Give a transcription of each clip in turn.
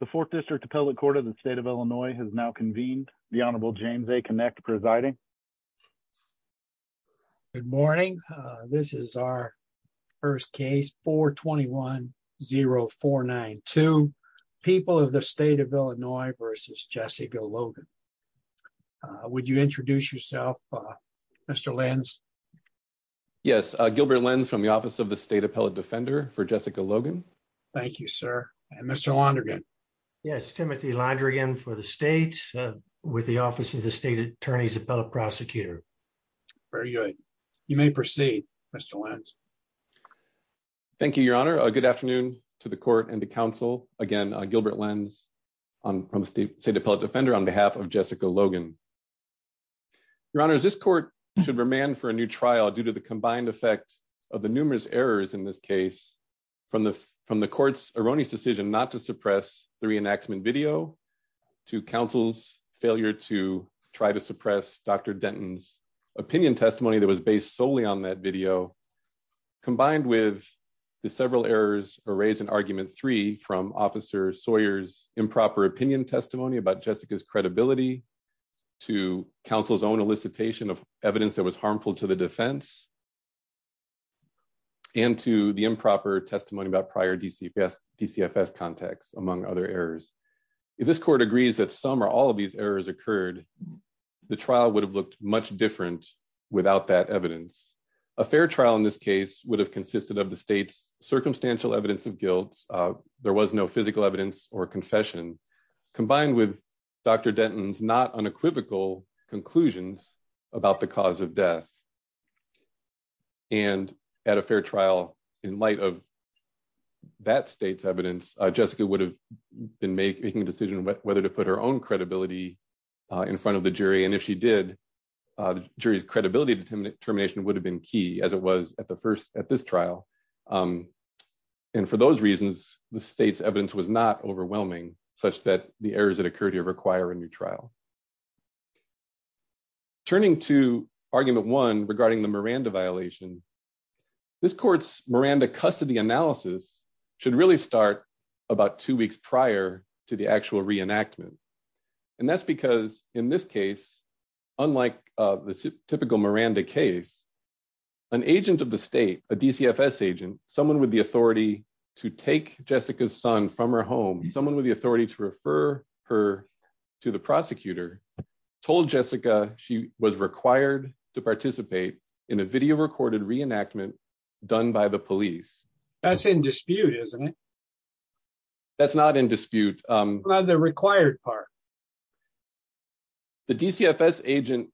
The Fourth District Appellate Court of the State of Illinois has now convened. The Honorable James A. Kinect presiding. Good morning. This is our first case 421-0492, People of the State of Illinois v. Jessica Logan. Would you introduce yourself, Mr. Lenz? Yes, Gilbert Lenz from the Office of the State Appellate Defender for Jessica Logan. Thank you, sir. And Mr. Londrigan? Yes, Timothy Londrigan for the State with the Office of the State Attorney's Appellate Prosecutor. Very good. You may proceed, Mr. Lenz. Thank you, Your Honor. Good afternoon to the Court and the Council. Again, Gilbert Lenz from the State Appellate Defender on behalf of Jessica Logan. Your Honor, this Court should remand for a new trial due to the combined effect of the numerous errors in this case, from the Court's erroneous decision not to suppress the reenactment video, to Council's failure to try to suppress Dr. Denton's opinion testimony that was based solely on that video, combined with the several errors raised in Argument 3 from Officer Sawyer's improper opinion testimony about Jessica's credibility, to Council's own elicitation of evidence that was harmful to the defense, and to the improper testimony about prior DCFS contacts, among other errors. If this Court agrees that some or all of these errors occurred, the trial would have looked much different without that evidence. A fair trial in this case would have consisted of the State's circumstantial evidence of guilt. There was no physical evidence or confession, combined with Dr. Denton's not unequivocal conclusions about the cause of death. And at a fair trial, in light of that State's evidence, Jessica would have been making a decision whether to put her own credibility in front of the jury, and if she did, the jury's credibility determination would have been key, as it was at this trial. And for those reasons, the State's evidence was not overwhelming, such that the errors that occurred here require a new trial. Turning to Argument 1 regarding the Miranda violation, this Court's Miranda custody analysis should really start about two weeks prior to the actual reenactment. And that's because, in this case, unlike the typical Miranda case, an agent of the State, a DCFS agent, someone with the authority to take Jessica's son from her home, someone with the authority to refer her to the prosecutor, told Jessica she was required to participate in a video-recorded reenactment done by the police. That's in dispute, isn't it? That's not in dispute. What about the required part? The DCFS agent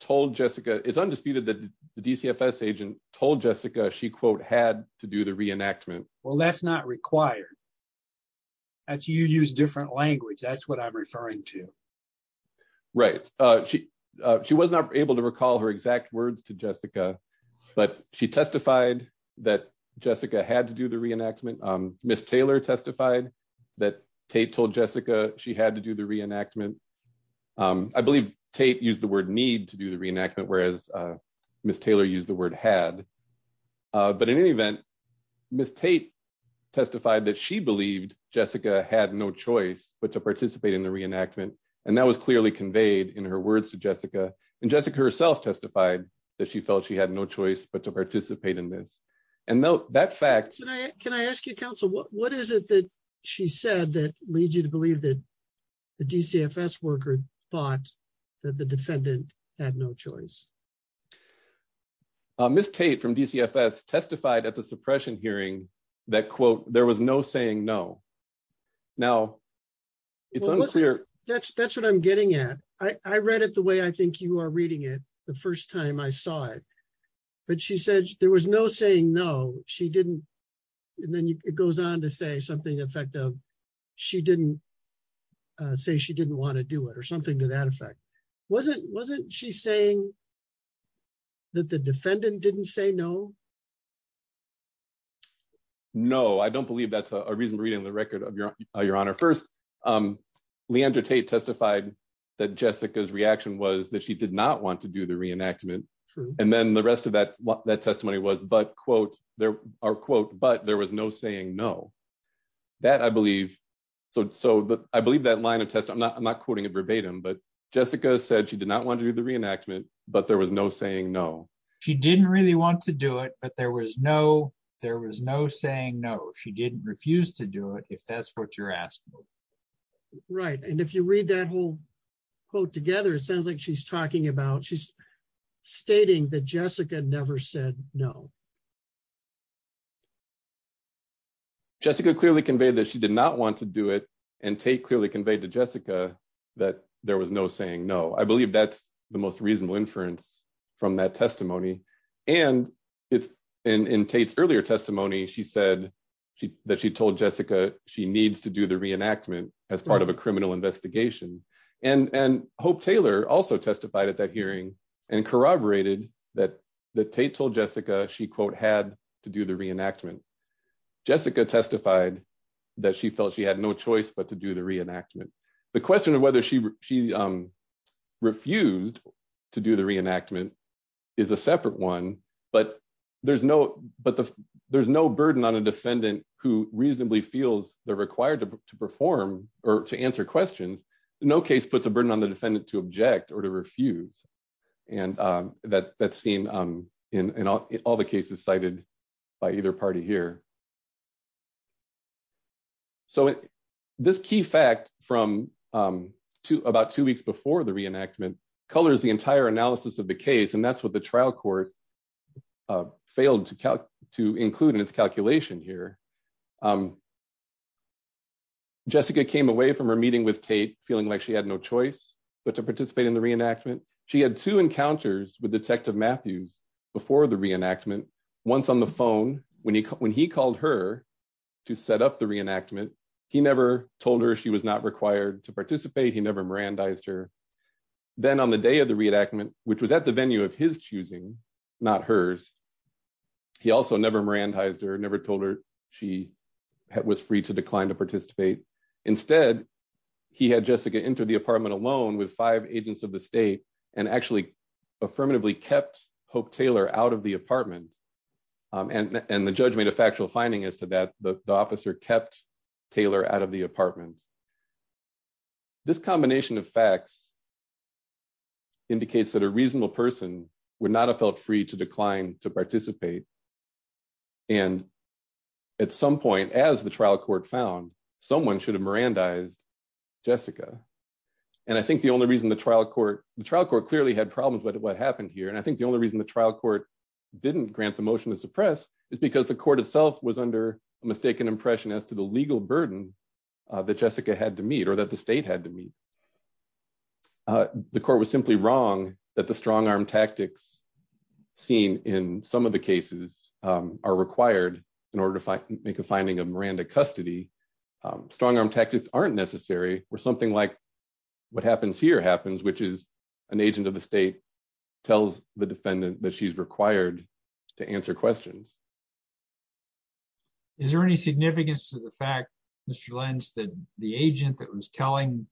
told Jessica, it's undisputed that the DCFS agent told Jessica she, quote, had to do the reenactment. Well, that's not required. You use different language. That's what I'm referring to. Right. She was not able to recall her exact words to Jessica, but she testified that Jessica had to do the reenactment. Ms. Taylor testified that Tate told Jessica she had to do the reenactment. I believe Tate used the word need to do the reenactment, whereas Ms. Taylor used the word had. But in any event, Ms. Tate testified that she believed Jessica had no choice but to participate in the reenactment, and that was clearly conveyed in her words to Jessica. And Jessica herself testified that she felt she had no choice but to participate in this. And that fact... Can I ask you, counsel, what is it that she said that leads you to believe that the DCFS worker thought that the defendant had no choice? Ms. Tate from DCFS testified at the suppression hearing that, quote, there was no saying no. Now, it's unclear... That's what I'm getting at. I read it the way I think you are reading it the first time I saw it. But she said there was no saying no. She didn't... And then it goes on to say something to the effect of she didn't say she didn't want to do it or something to that effect. Wasn't she saying that the defendant didn't say no? No, I don't believe that's a reasonable reading of the record, Your Honor. First, Leandra Tate testified that Jessica's reaction was that she did not want to do the reenactment. And the rest of that testimony was, quote, but there was no saying no. That, I believe... I believe that line of testimony... I'm not quoting it verbatim, but Jessica said she did not want to do the reenactment, but there was no saying no. She didn't really want to do it, but there was no saying no. She didn't refuse to do it, if that's what you're asking. Right. And if you read that whole quote together, it sounds like she's talking about... Jessica never said no. Jessica clearly conveyed that she did not want to do it, and Tate clearly conveyed to Jessica that there was no saying no. I believe that's the most reasonable inference from that testimony. And in Tate's earlier testimony, she said that she told Jessica she needs to do the reenactment as part of a criminal investigation. And Hope Taylor also testified at that hearing and corroborated that Tate told Jessica she, quote, had to do the reenactment. Jessica testified that she felt she had no choice but to do the reenactment. The question of whether she refused to do the reenactment is a separate one, but there's no burden on a defendant who reasonably feels they're required to perform or to answer questions. No case puts a burden on the defendant to object or to refuse, and that's seen in all the cases cited by either party here. So this key fact from about two weeks before the reenactment colors the entire analysis of the case, and that's what the trial court failed to include in its calculation here. Jessica came away from her meeting with Tate feeling like she had no choice but to participate in the reenactment. She had two encounters with Detective Matthews before the reenactment. Once on the phone, when he called her to set up the reenactment, he never told her she was not required to participate. He never Mirandized her. Then on the day of the reenactment, which was at the venue of his choosing, not hers, he also never Mirandized her, never told her she was free to decline to participate. Instead, he had Jessica enter the apartment alone with five agents of the state and actually affirmatively kept Hope Taylor out of the apartment. And the judge made a factual finding as to that, the officer kept Taylor out of the apartment. This combination of facts indicates that a reasonable person would not have felt free to decline to participate. And at some point, as the trial court found, someone should have Mirandized Jessica. And I think the only reason the trial court clearly had problems with what happened here, and I think the only reason the trial court didn't grant the motion to suppress is because the court itself was under a mistaken impression as to the legal burden that Jessica had to meet or that the state had to meet. The court was simply wrong that the strong arm tactics seen in some of the cases are required in order to make a finding of Miranda custody. Strong arm tactics aren't necessary where something like what happens here happens, which is an agent of the state tells the defendant that she's required to answer questions. Is there any significance to the fact, Mr. Lenz, that the agent that was telling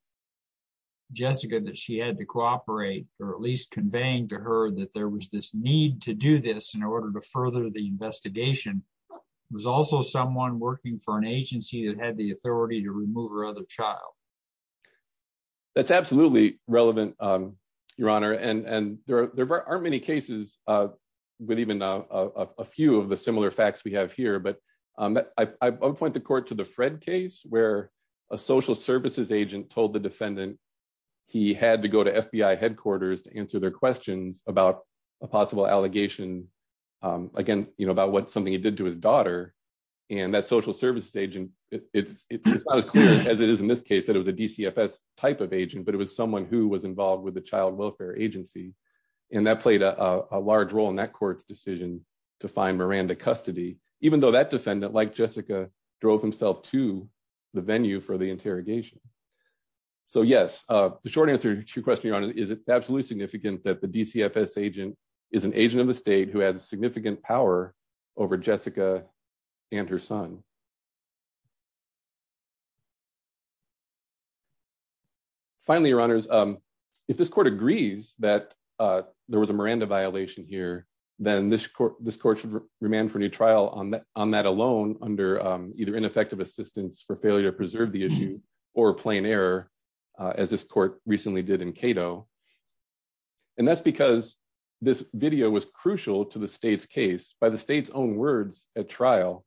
Jessica that she had to cooperate, or at least conveying to her that there was this need to do this in order to further the investigation, was also someone working for an agency that had the authority to remove her other child? That's absolutely relevant, Your Honor, and there aren't many cases with even a few of the similar facts we have here. But I would point the court to the Fred case where a social services agent told the defendant he had to go to FBI headquarters to answer their questions about a possible allegation, again, about something he did to his daughter. And that social services agent, it's not as clear as it is in this case that it was a DCFS type of agent, but it was someone who was involved with the child welfare agency. And that played a large role in that court's decision to find Miranda custody, even though that defendant, like Jessica, drove himself to the venue for the interrogation. So yes, the short answer to your question, Your Honor, is it absolutely significant that the DCFS agent is an agent of the state who had significant power over Jessica and her son? Finally, Your Honors, if this court agrees that there was a Miranda violation here, then this court should remand for a new trial on that alone under either ineffective assistance for failure to preserve the issue or plain error, as this court recently did in Cato. And that's because this video was crucial to the state's case by the state's own words at trial.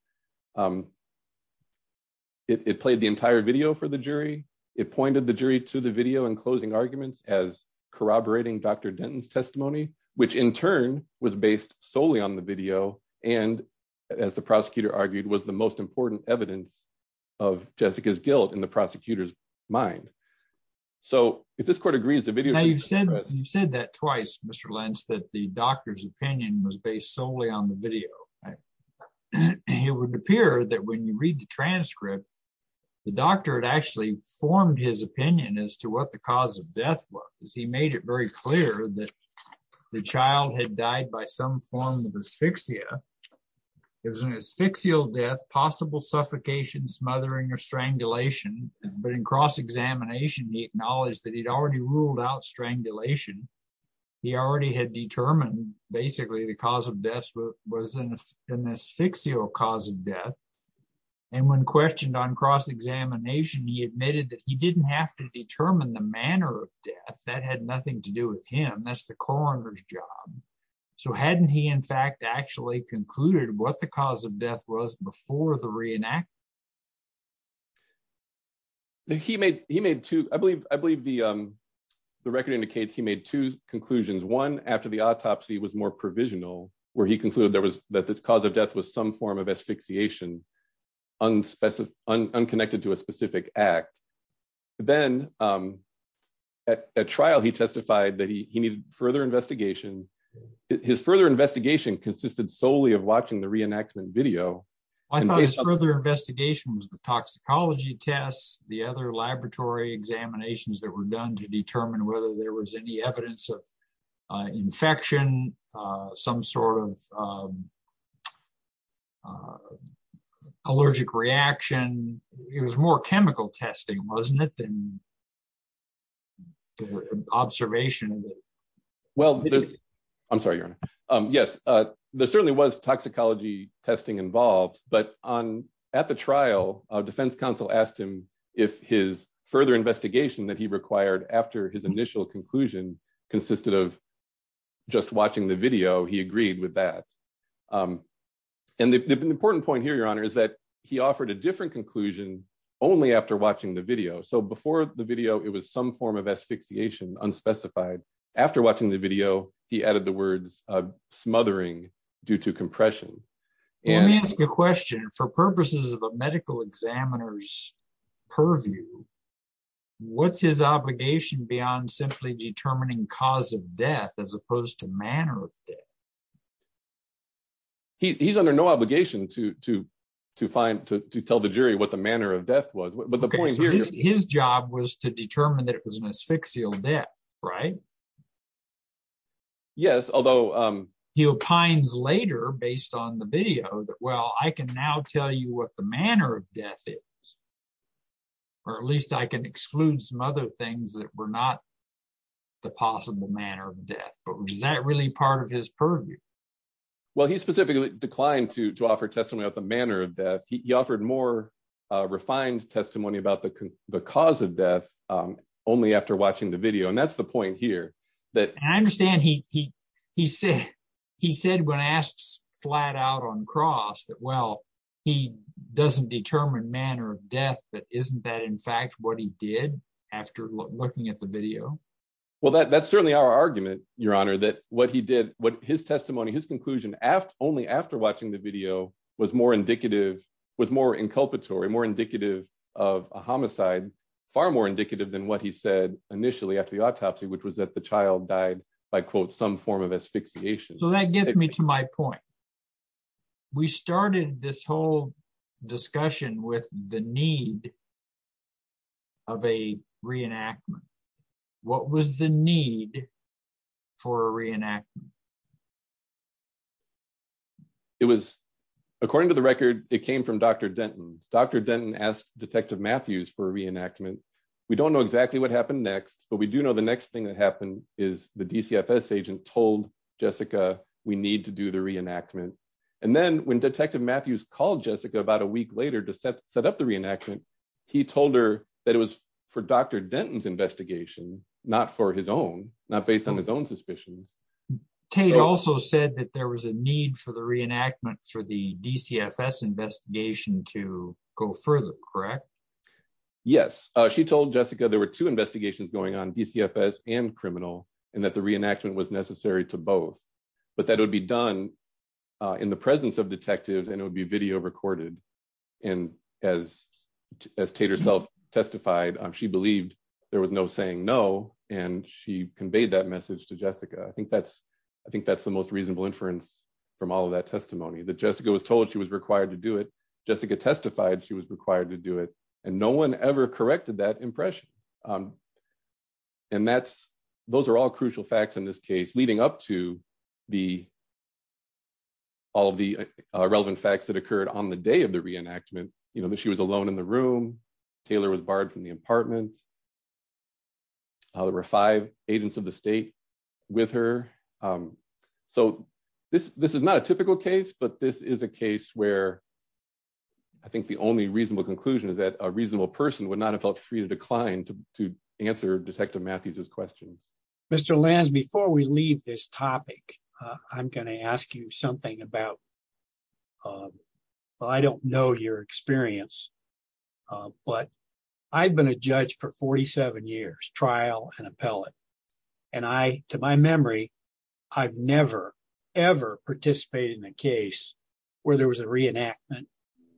It played the entire video for the jury. It pointed the jury to the video and closing arguments as corroborating Dr. Denton's testimony, which in turn was based solely on the video and, as the prosecutor argued, was the most important evidence of Jessica's guilt in the prosecutor's mind. So, if this court agrees, the video... Now, you've said that twice, Mr. Lentz, that the doctor's opinion was based solely on the video. It would appear that when you read the transcript, the doctor had actually formed his opinion as to what the cause of death was. He made it very clear that the child had died by some form of asphyxia. It was an asphyxial death, possible suffocation, smothering, or strangulation. But in cross-examination, he acknowledged that he'd already ruled out strangulation. He already had determined, basically, the cause of death was an asphyxial cause of death. And when questioned on cross-examination, he admitted that he didn't have to determine the manner of death. That had nothing to do with him. That's the coroner's job. So hadn't he, in fact, actually concluded what the cause of death was before the reenactment? He made two... I believe the record indicates he made two conclusions. One, after the autopsy was more provisional, where he concluded that the cause of death was some form of asphyxiation, unconnected to a specific act. Then, at trial, he testified that he needed further investigation. His further investigation consisted solely of watching the reenactment video. I thought his further investigation was the toxicology tests, the other laboratory examinations that were done to determine whether there was any evidence of infection, some sort of allergic reaction. It was more chemical testing, wasn't it, than observation? Well, I'm sorry, Your Honor. Yes, there certainly was toxicology testing involved, but at the trial, defense counsel asked him if his further investigation that he required after his initial conclusion consisted of just watching the video. He agreed with that. And the important point here, Your Honor, is that he offered a different conclusion only after watching the video. So before the video, it was some form of asphyxiation, unspecified. After watching the video, he added the words, smothering due to compression. Let me ask you a question. For purposes of a medical examiner's purview, what's his obligation beyond simply determining cause of death as opposed to manner of death? He's under no obligation to tell the jury what the manner of death was. His job was to determine that it was an asphyxial death, right? Yes, although… He opines later, based on the video, that, well, I can now tell you what the manner of death is. Or at least I can exclude some other things that were not the possible manner of death. But was that really part of his purview? Well, he specifically declined to offer testimony about the manner of death. He offered more refined testimony about the cause of death only after watching the video. And that's the point here. I understand he said when asked flat out on cross that, well, he doesn't determine manner of death, but isn't that in fact what he did after looking at the video? Well, that's certainly our argument, Your Honor, that what he did, his testimony, his conclusion, only after watching the video, was more inculpatory, more indicative of a homicide, far more indicative than what he said initially after the autopsy, which was that the child died by, quote, some form of asphyxiation. So that gets me to my point. We started this whole discussion with the need of a reenactment. What was the need for a reenactment? It was, according to the record, it came from Dr. Denton. Dr. Denton asked Detective Matthews for a reenactment. We don't know exactly what happened next, but we do know the next thing that happened is the DCFS agent told Jessica we need to do the reenactment. And then when Detective Matthews called Jessica about a week later to set up the reenactment, he told her that it was for Dr. Denton's investigation, not for his own, not based on his own suspicions. Tate also said that there was a need for the reenactment for the DCFS investigation to go further, correct? Yes. She told Jessica there were two investigations going on, DCFS and criminal, and that the reenactment was necessary to both. But that would be done in the presence of detectives and it would be video recorded. And as Tate herself testified, she believed there was no saying no, and she conveyed that message to Jessica. I think that's the most reasonable inference from all of that testimony, that Jessica was told she was required to do it. And no one ever corrected that impression. And those are all crucial facts in this case, leading up to all the relevant facts that occurred on the day of the reenactment. She was alone in the room. Taylor was barred from the apartment. There were five agents of the state with her. So this is not a typical case, but this is a case where I think the only reasonable conclusion is that a reasonable person would not have felt free to decline to answer Detective Matthews' questions. Mr. Lenz, before we leave this topic, I'm going to ask you something about, well, I don't know your experience, but I've been a judge for 47 years, trial and appellate. And I, to my memory, I've never, ever participated in a case where there was a reenactment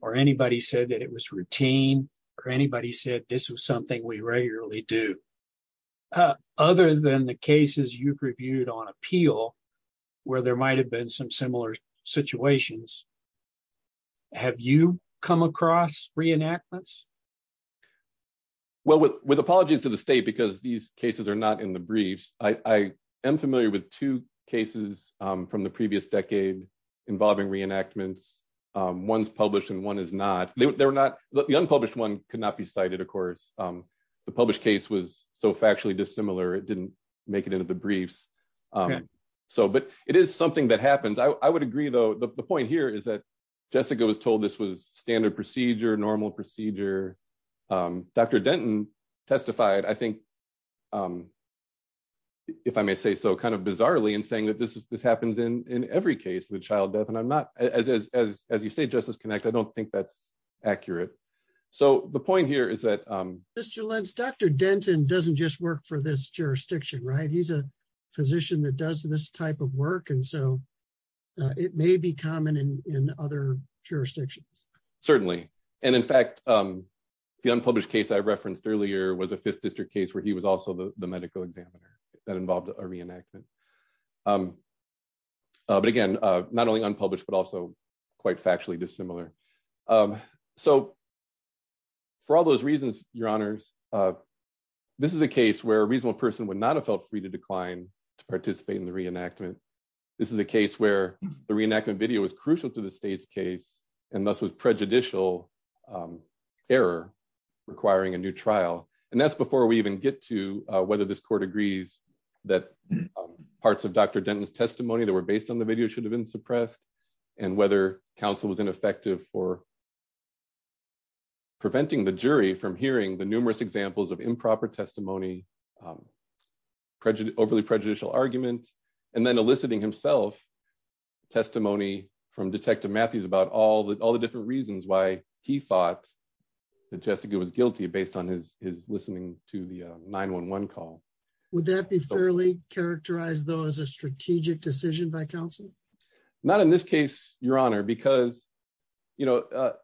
or anybody said that it was routine or anybody said this was something we regularly do. Other than the cases you've reviewed on appeal, where there might have been some similar situations, have you come across reenactments? Well, with apologies to the state, because these cases are not in the briefs, I am familiar with two cases from the previous decade involving reenactments. One's published and one is not. The unpublished one could not be cited, of course. The published case was so factually dissimilar, it didn't make it into the briefs. But it is something that happens. I would agree, though, the point here is that Jessica was told this was standard procedure, normal procedure. Dr. Denton testified, I think, if I may say so, kind of bizarrely in saying that this happens in every case with child death. And I'm not, as you say, Justice Connect, I don't think that's accurate. So the point here is that... Dr. Lentz, Dr. Denton doesn't just work for this jurisdiction, right? He's a physician that does this type of work. And so it may be common in other jurisdictions. Certainly. And in fact, the unpublished case I referenced earlier was a Fifth District case where he was also the medical examiner that involved a reenactment. But again, not only unpublished, but also quite factually dissimilar. So for all those reasons, Your Honors, this is a case where a reasonable person would not have felt free to decline to participate in the reenactment. This is a case where the reenactment video was crucial to the state's case, and thus was prejudicial error requiring a new trial. And that's before we even get to whether this court agrees that parts of Dr. Denton's testimony that were based on the video should have been suppressed, and whether counsel was ineffective for preventing the jury from hearing the numerous examples of improper testimony, overly prejudicial argument, and then eliciting himself testimony from Detective Matthews about all the different reasons why he thought that Jessica was guilty based on his listening to the 911 call. Would that be fairly characterized, though, as a strategic decision by counsel? Not in this case, Your Honor, because the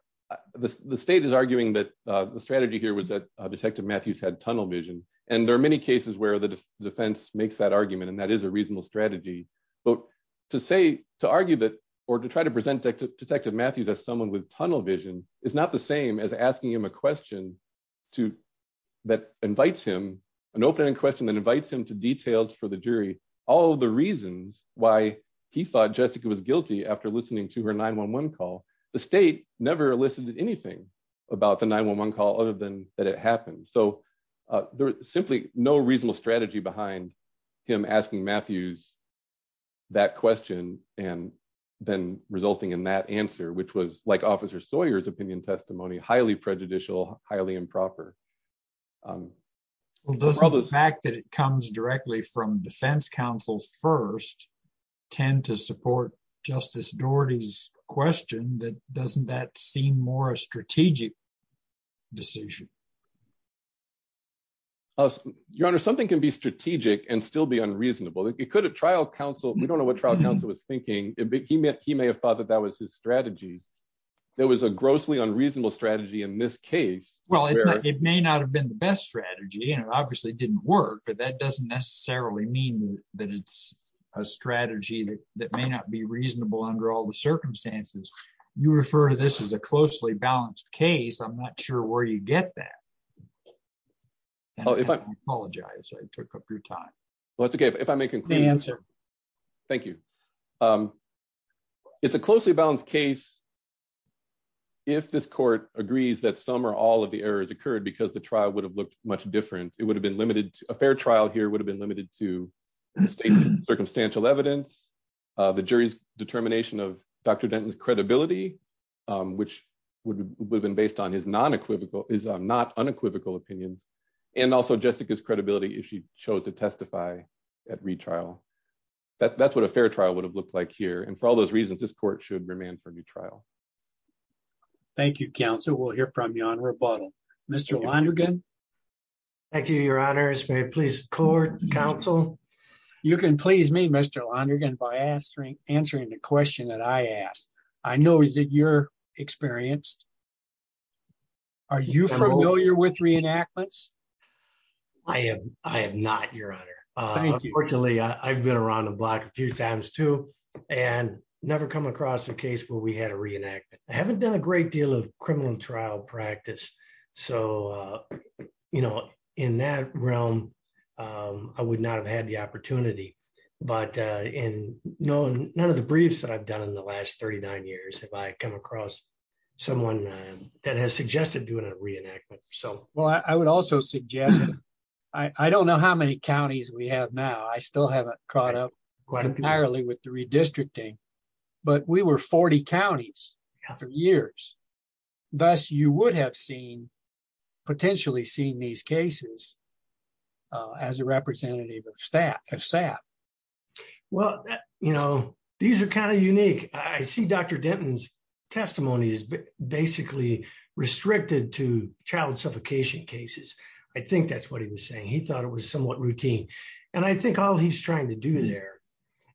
state is arguing that the strategy here was that Detective Matthews had tunnel vision. And there are many cases where the defense makes that argument, and that is a reasonable strategy. But to say, to argue that, or to try to present Detective Matthews as someone with tunnel vision is not the same as asking him a question that invites him, an open-ended question that invites him to detail for the jury all the reasons why he thought Jessica was guilty after listening to her 911 call. The state never elicited anything about the 911 call other than that it happened. So there was simply no reasonable strategy behind him asking Matthews that question and then resulting in that answer, which was, like Officer Sawyer's opinion testimony, highly prejudicial, highly improper. Well, doesn't the fact that it comes directly from defense counsels first tend to support Justice Doherty's question that doesn't that seem more a strategic decision? Your Honor, something can be strategic and still be unreasonable. It could have trial counsel, we don't know what trial counsel was thinking, he may have thought that that was his strategy. There was a grossly unreasonable strategy in this case. Well, it may not have been the best strategy, and it obviously didn't work, but that doesn't necessarily mean that it's a strategy that may not be reasonable under all the circumstances. You refer to this as a closely balanced case, I'm not sure where you get that. I apologize, I took up your time. Well, that's okay, if I may conclude. Same answer. Thank you. It's a closely balanced case. If this court agrees that some or all of the errors occurred because the trial would have looked much different, it would have been limited to a fair trial here would have been limited to state circumstantial evidence, the jury's determination of Dr. Credibility, which would have been based on his non equivocal is not unequivocal opinions, and also Jessica's credibility if she chose to testify at retrial. That's what a fair trial would have looked like here and for all those reasons this court should remain for new trial. Thank you counsel will hear from you on rebuttal. Mr. Lonergan. Thank you, Your Honor is very pleased court counsel. You can please me Mr Lonergan by answering, answering the question that I asked. I know that you're experienced. Are you familiar with reenactments. I am, I am not your honor. I've been around the block a few times too, and never come across a case where we had a reenactment haven't done a great deal of criminal trial practice. So, you know, in that realm. I would not have had the opportunity, but in knowing none of the briefs that I've done in the last 39 years have I come across someone that has suggested doing a reenactment. So, well, I would also suggest. I don't know how many counties we have now I still haven't caught up quite entirely with the redistricting, but we were 40 counties for years. Thus, you would have seen potentially seen these cases as a representative of staff staff. Well, you know, these are kind of unique, I see Dr. Denton's testimony is basically restricted to child suffocation cases. I think that's what he was saying he thought it was somewhat routine. And I think all he's trying to do there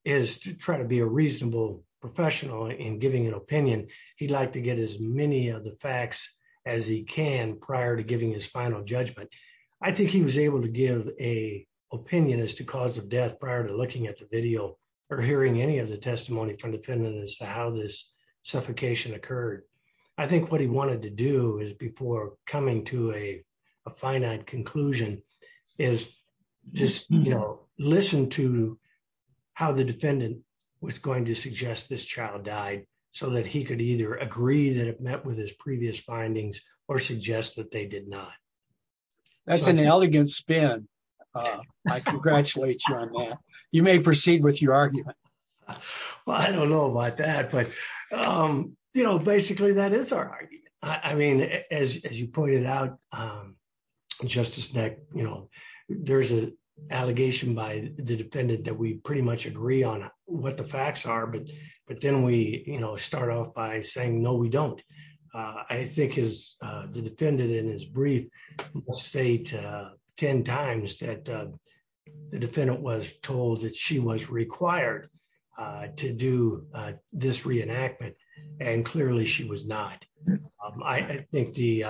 is to try to be a reasonable professional in giving an opinion, he'd like to get as many of the facts as he can prior to giving his final judgment. I think he was able to give a opinion as to cause of death prior to looking at the video, or hearing any of the testimony from defendant as to how this suffocation occurred. I think what he wanted to do is before coming to a finite conclusion is just, you know, listen to how the defendant was going to suggest this child died, so that he could either agree that it met with his previous findings or suggest that they did not. That's an elegant spin. I congratulate you on that. You may proceed with your argument. Well, I don't know about that, but, you know, basically that is our, I mean, as you pointed out, Justice neck, you know, there's an allegation by the defendant that we pretty much agree on what the facts are but but then we, you know, start off by saying I think is the defendant in his brief state, 10 times that the defendant was told that she was required to do this reenactment, and clearly she was not. I think the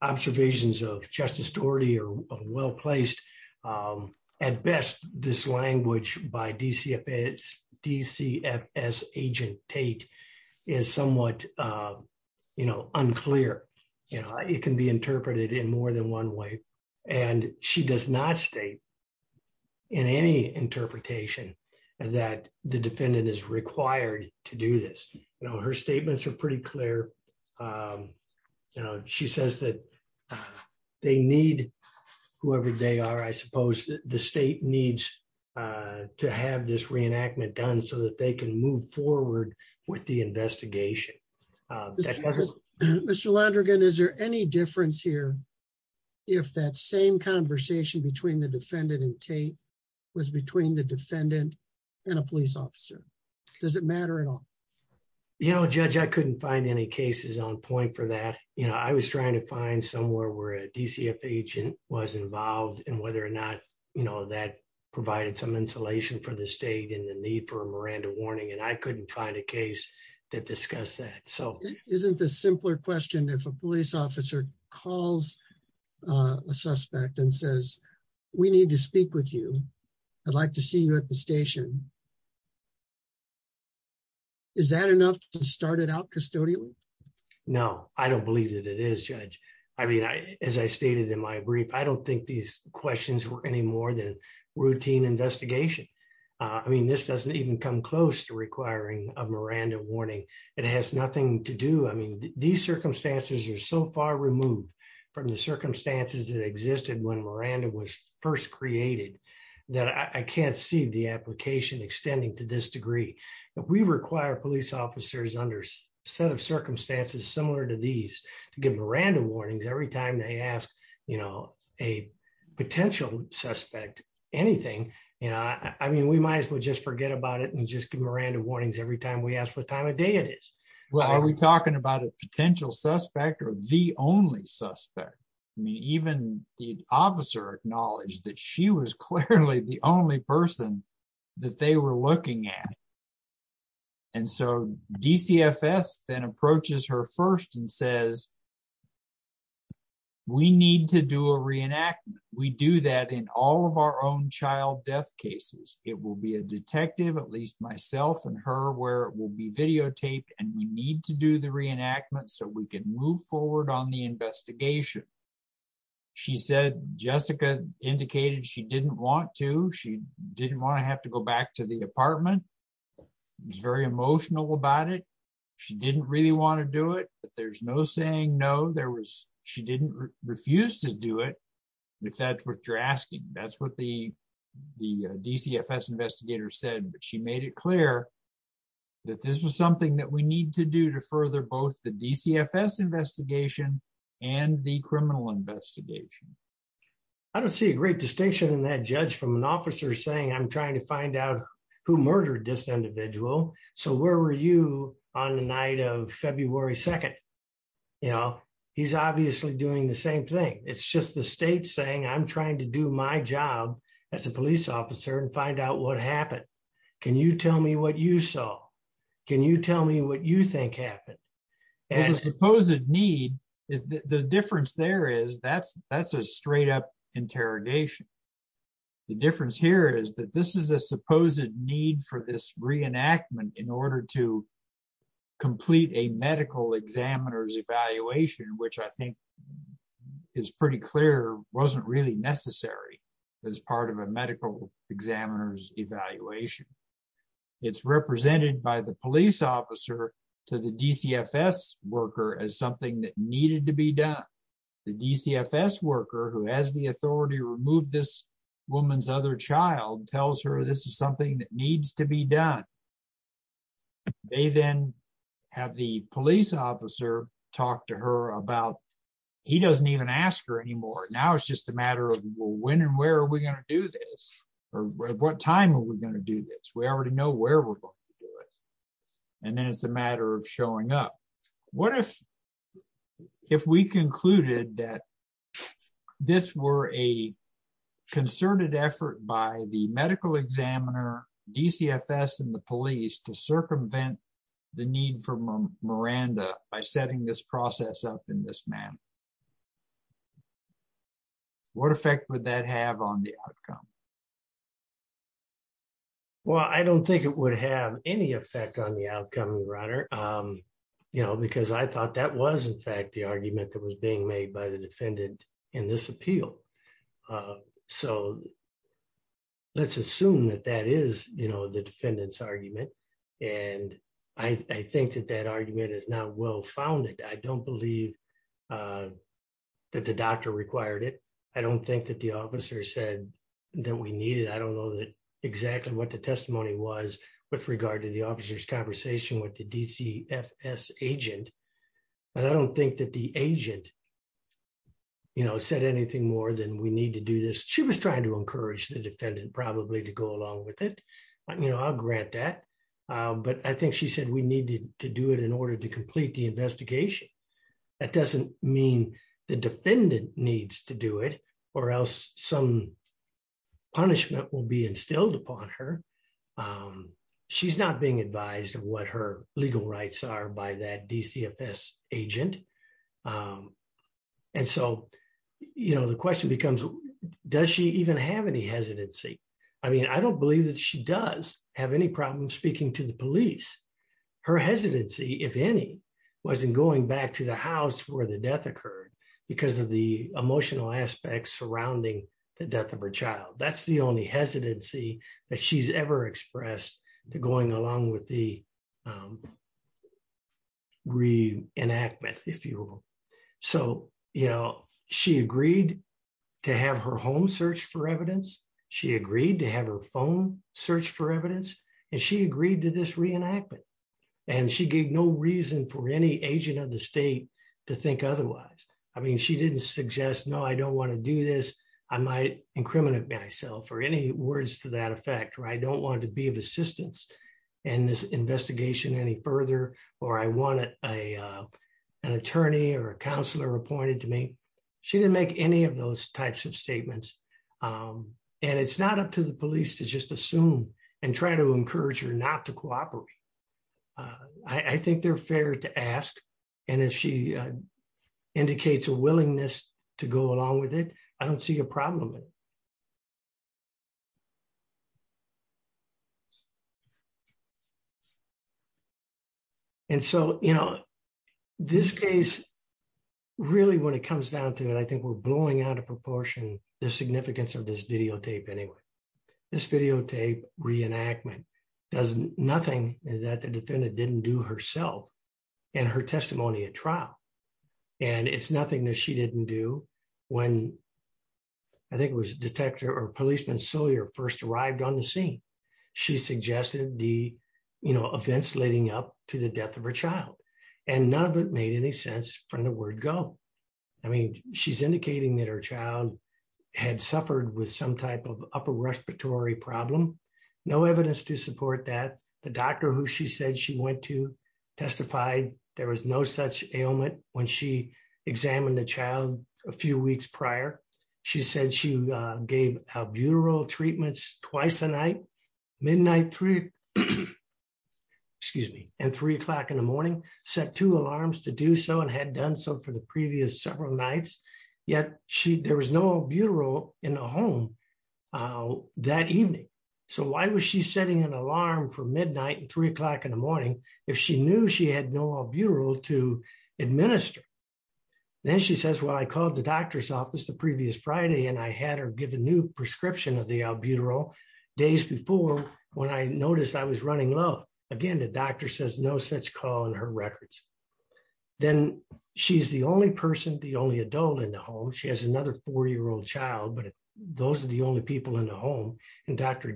observations of justice story or well placed. At best, this language by DCF is DCF as agent Tate is somewhat, you know, unclear, you know, it can be interpreted in more than one way. And she does not stay in any interpretation that the defendant is required to do this. You know her statements are pretty clear. She says that they need whoever they are I suppose the state needs to have this reenactment done so that they can move forward with the investigation. Mr Landrigan is there any difference here. If that same conversation between the defendant and Tate was between the defendant and a police officer. Does it matter at all. You know judge I couldn't find any cases on point for that, you know, I was trying to find somewhere where a DCF agent was involved in whether or not you know that provided some insulation for the state and the need for a Miranda warning and I couldn't find a case that discuss that so isn't the simpler question if a police officer calls a suspect and says, We need to speak with you. I'd like to see you at the station. Is that enough to start it out custodial. No, I don't believe that it is judge. I mean I, as I stated in my brief I don't think these questions were any more than routine investigation. I mean this doesn't even come close to requiring a Miranda warning. It has nothing to do I mean these circumstances are so far removed from the circumstances that existed when Miranda was first created that I can't see the application extending to this degree. We require police officers under set of circumstances similar to these give Miranda warnings every time they ask, you know, a potential suspect anything. You know, I mean we might as well just forget about it and just give Miranda warnings every time we asked what time of day it is. Well, are we talking about a potential suspect or the only suspect me even the officer acknowledged that she was clearly the only person that they were looking at. And so, DCFS then approaches her first and says, We need to do a reenactment, we do that in all of our own child death cases, it will be a detective at least myself and her where it will be videotaped and we need to do the reenactment so we can move forward on the investigation. She said, Jessica indicated she didn't want to she didn't want to have to go back to the apartment was very emotional about it. She didn't really want to do it, but there's no saying no there was, she didn't refuse to do it. If that's what you're asking, that's what the, the DCFS investigator said but she made it clear that this was something that we need to do to further both the DCFS investigation, and the criminal investigation. I don't see a great distinction in that judge from an officer saying I'm trying to find out who murdered this individual. So where were you on the night of February 2. You know, he's obviously doing the same thing. It's just the state saying I'm trying to do my job as a police officer and find out what happened. Can you tell me what you saw. Can you tell me what you think happened as opposed to need is the difference there is that's, that's a straight up interrogation. The difference here is that this is a supposed need for this reenactment in order to complete a medical examiners evaluation which I think is pretty clear wasn't really necessary as part of a medical examiners evaluation. It's represented by the police officer to the DCFS worker as something that needed to be done. The DCFS worker who has the authority to remove this woman's other child tells her this is something that needs to be done. They then have the police officer, talk to her about. He doesn't even ask her anymore now it's just a matter of when and where are we going to do this, or what time are we going to do this we already know where we're going to do it. And then it's a matter of showing up. What if, if we concluded that this were a concerted effort by the medical examiner DCFS and the police to circumvent the need for Miranda, by setting this process up in this man. What effect would that have on the outcome. Well, I don't think it would have any effect on the outcome runner, you know, because I thought that was in fact the argument that was being made by the defendant in this appeal. So, let's assume that that is, you know, the defendants argument. And I think that that argument is not well founded I don't believe that the doctor required it. I don't think that the officer said that we needed I don't know that exactly what the testimony was with regard to the officers conversation with the DCFS agent. But I don't think that the agent. You know said anything more than we need to do this, she was trying to encourage the defendant probably to go along with it. You know, I'll grant that. But I think she said we needed to do it in order to complete the investigation. That doesn't mean the defendant needs to do it, or else some punishment will be instilled upon her. She's not being advised what her legal rights are by that DCFS agent. And so, you know, the question becomes, does she even have any hesitancy. I mean I don't believe that she does have any problem speaking to the police, her hesitancy, if any, wasn't going back to the house where the death occurred because of the So, you know, she agreed to have her home search for evidence. She agreed to have her phone search for evidence, and she agreed to this reenactment, and she gave no reason for any agent of the state to think otherwise. I mean she didn't suggest no I don't want to do this. I might incriminate myself or any words to that effect or I don't want to be of assistance. And this investigation any further, or I want a, an attorney or a counselor appointed to me. She didn't make any of those types of statements. And it's not up to the police to just assume and try to encourage her not to cooperate. I think they're fair to ask. And if she indicates a willingness to go along with it. I don't see a problem. And so, you know, this case, really when it comes down to it I think we're blowing out of proportion, the significance of this videotape anyway. This videotape reenactment does nothing that the defendant didn't do herself, and her testimony at trial. And it's nothing that she didn't do. When I think it was detector or policeman Sawyer first arrived on the scene. She suggested the, you know, events leading up to the death of her child, and none of it made any sense from the word go. I mean, she's indicating that her child had suffered with some type of upper respiratory problem. No evidence to support that the doctor who she said she went to testify, there was no such ailment. When she examined the child. A few weeks prior, she said she gave a bureau treatments, twice a night, midnight three. Excuse me, and three o'clock in the morning, set two alarms to do so and had done so for the previous several nights. Yet, she there was no bureau in a home. That evening. So why was she setting an alarm for midnight and three o'clock in the morning, if she knew she had no bureau to administer. Then she says well I called the doctor's office the previous Friday and I had her give a new prescription of the albuterol days before, when I noticed I was running low. Again, the doctor says no such call in her records. Then she's the only person the only adult in the home she has another four year old child but those are the only people in the home, and Dr.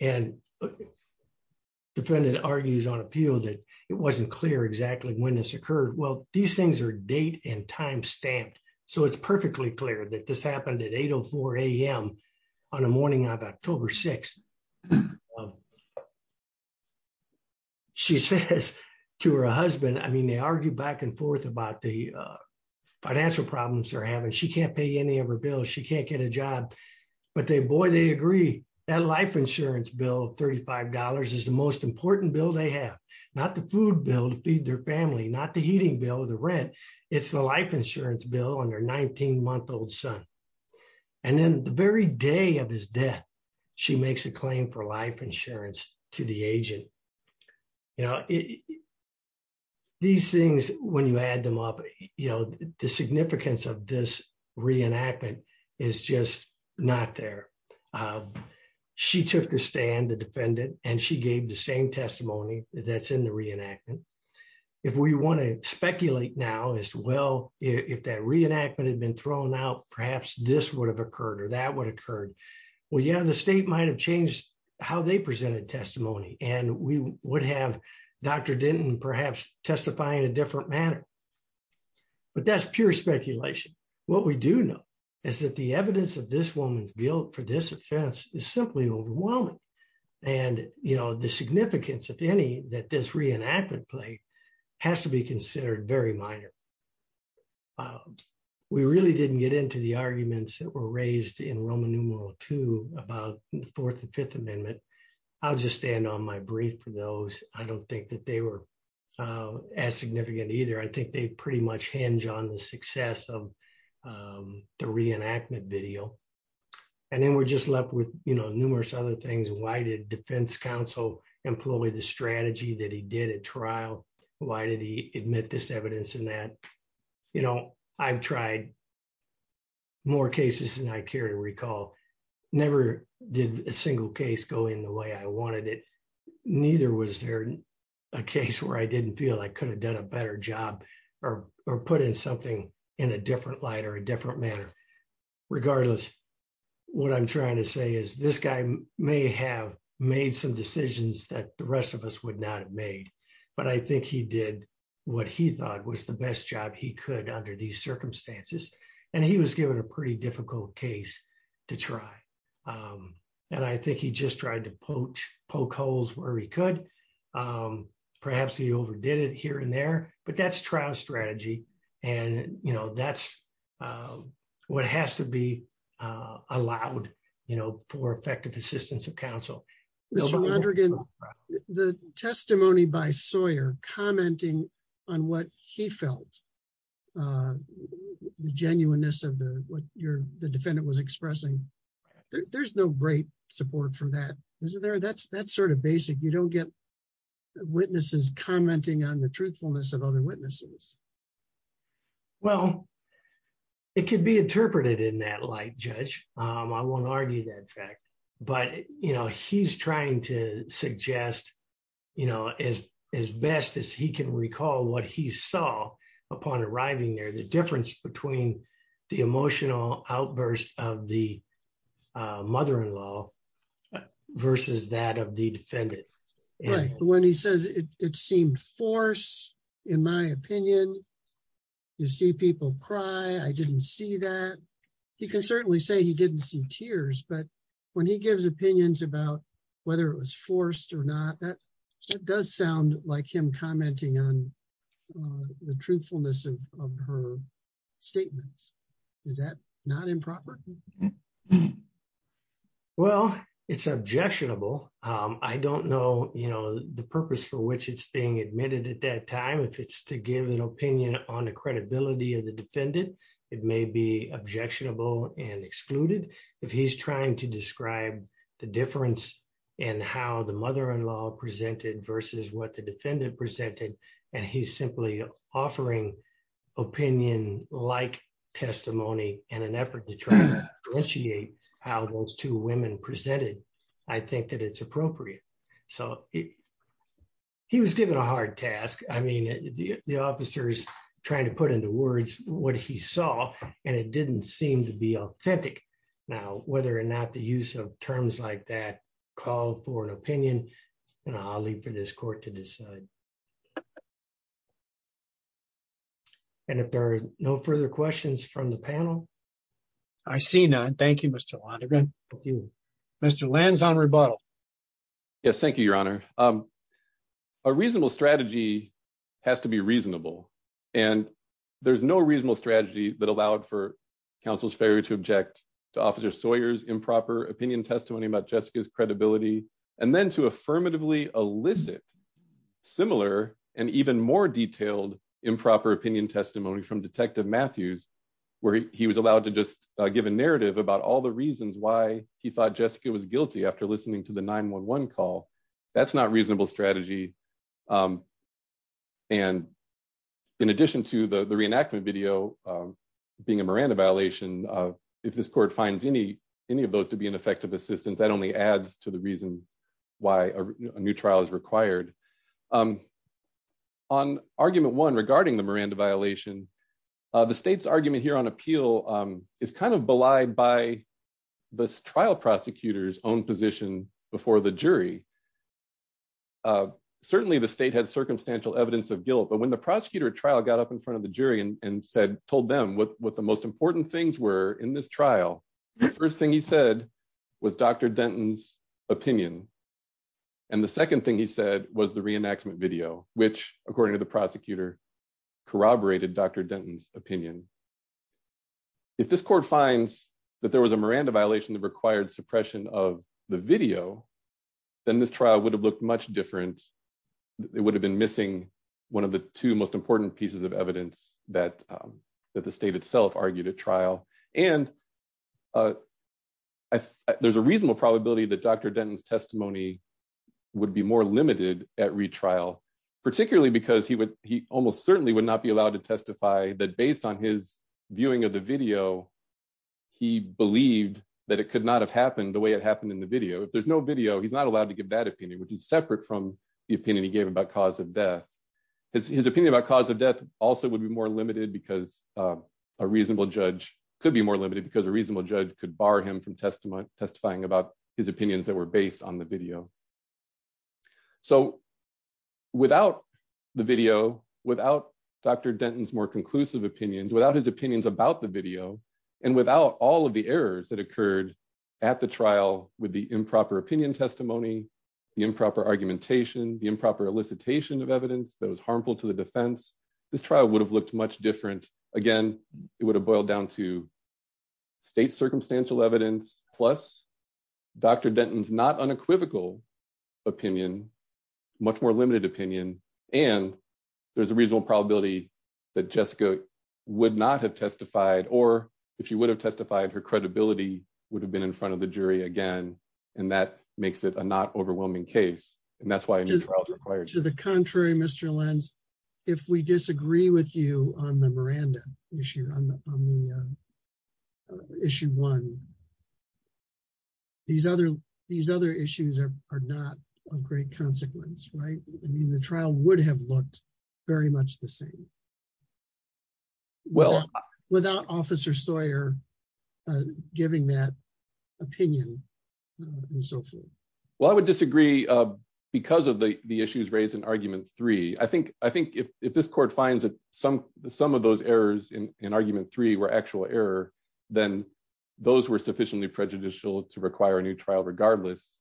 And defended argues on appeal that it wasn't clear exactly when this occurred. Well, these things are date and time stamped, so it's perfectly clear that this happened at 8am on a morning of October 6. She says to her husband I mean they argue back and forth about the financial problems are having she can't pay any of her bills she can't get a job. But they boy they agree that life insurance bill $35 is the most important bill they have not the food bill to feed their family not the heating bill the rent. It's the life insurance bill on their 19 month old son. And then the very day of his death. She makes a claim for life insurance to the agent. You know, these things, when you add them up, you know, the significance of this reenactment is just not there. She took the stand the defendant, and she gave the same testimony that's in the reenactment. If we want to speculate now as well. If that reenactment had been thrown out perhaps this would have occurred or that would occur. Well yeah the state might have changed how they presented testimony, and we would have Dr didn't perhaps testify in a different manner. But that's pure speculation. What we do know is that the evidence of this woman's guilt for this offense is simply overwhelming. And, you know, the significance of any that this reenactment play has to be considered very minor. We really didn't get into the arguments that were raised in Roman numeral to about the Fourth and Fifth Amendment. I'll just stand on my brief for those, I don't think that they were as significant either I think they pretty much hinge on the success of the reenactment video. And then we're just left with, you know, numerous other things and why did defense counsel employee the strategy that he did a trial. Why did he admit this evidence in that, you know, I've tried more cases and I care to recall, never did a single case go in the way I wanted it. Neither was there a case where I didn't feel I could have done a better job, or, or put in something in a different light or a different manner. Regardless, what I'm trying to say is this guy may have made some decisions that the rest of us would not have made, but I think he did what he thought was the best job he could under these circumstances, and he was given a pretty difficult case to try. And I think he just tried to poach poke holes where he could perhaps he overdid it here and there, but that's trial strategy. And, you know, that's what has to be allowed, you know, for effective assistance of counsel. The testimony by Sawyer commenting on what he felt the genuineness of the, what your, the defendant was expressing. There's no great support from that is there that's that's sort of basic you don't get witnesses commenting on the truthfulness of other witnesses. Well, it can be interpreted in that light judge. I won't argue that fact. But, you know, he's trying to suggest, you know, as, as best as he can recall what he saw upon arriving there the difference between the emotional outburst of the mother in law, versus that of the defendant. When he says it seemed force, in my opinion, you see people cry I didn't see that he can certainly say he didn't see tears but when he gives opinions about whether it was forced or not that does sound like him commenting on the truthfulness of her statements. Is that not improper. Well, it's objectionable. I don't know, you know, the purpose for which it's being admitted at that time if it's to give an opinion on the credibility of the defendant. It may be objectionable and excluded. If he's trying to describe the difference in how the mother in law presented versus what the defendant presented, and he's simply offering opinion like testimony, and an effort to try to appreciate how those two women presented. I think that it's appropriate. So, he was given a hard task. I mean, the officers, trying to put into words. What he saw, and it didn't seem to be authentic. Now, whether or not the use of terms like that call for an opinion, and I'll leave for this court to decide. And if there's no further questions from the panel. I see none. Thank you, Mr. Mr lands on rebuttal. Yes, thank you, Your Honor. A reasonable strategy has to be reasonable. And there's no reasonable strategy that allowed for counsel's failure to object to officer Sawyer's improper opinion testimony about Jessica's credibility, and then to affirmatively elicit similar, and even more reasonable strategy. And in addition to the the reenactment video, being a Miranda violation. If this court finds any, any of those to be an effective assistance that only adds to the reason why a new trial is required on argument one regarding the Miranda violation. The state's argument here on appeal is kind of belied by the trial prosecutors own position before the jury. Certainly the state has circumstantial evidence of guilt but when the prosecutor trial got up in front of the jury and said told them what what the most important things were in this trial. The first thing he said was Dr. Denton's opinion. And the second thing he said was the reenactment video, which, according to the prosecutor corroborated Dr. Denton's opinion. If this court finds that there was a Miranda violation that required suppression of the video, then this trial would have looked much different. It would have been missing. One of the two most important pieces of evidence that that the state itself argued a trial, and there's a reasonable probability that Dr. Denton's testimony would be more limited at retrial, particularly because he would he almost certainly would not be allowed to testify that based on his viewing of the video. He believed that it could not have happened the way it happened in the video if there's no video he's not allowed to give that opinion, which is separate from the opinion he gave about cause of death. His opinion about cause of death, also would be more limited because a reasonable judge could be more limited because a reasonable judge could bar him from testament testifying about his opinions that were based on the video. So, without the video, without Dr. Denton's more conclusive opinions, without his opinions about the video, and without all of the errors that occurred at the trial with the improper opinion testimony, the improper argumentation, the improper unequivocal opinion, much more limited opinion, and there's a reasonable probability that Jessica would not have testified or if you would have testified her credibility would have been in front of the jury again. And that makes it a not overwhelming case. And that's why I'm required to the contrary Mr lens. If we disagree with you on the Miranda issue on the issue one. These other these other issues are not a great consequence right I mean the trial would have looked very much the same. Well, without officer Sawyer, giving that opinion, and so forth. Well, I would disagree. Because of the issues raised in argument three I think, I think if this court finds that some, some of those errors in argument three were actual error, then those were sufficiently prejudicial to require a new trial regardless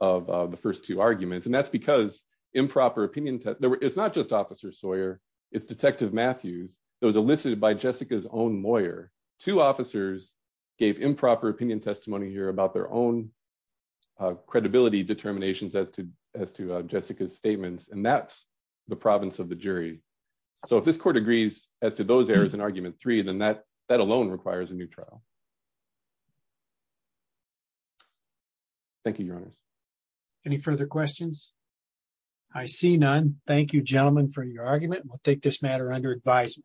of the first two arguments and that's because improper opinion. It's not just officer Sawyer. It's detective Matthews, those elicited by Jessica's own lawyer to officers gave improper opinion testimony here about their own credibility determinations as to as to Jessica's statements and that's the province of the jury. So if this court agrees as to those areas and argument three then that that alone requires a new trial. Thank you. Any further questions. I see none. Thank you gentlemen for your argument we'll take this matter under advisement.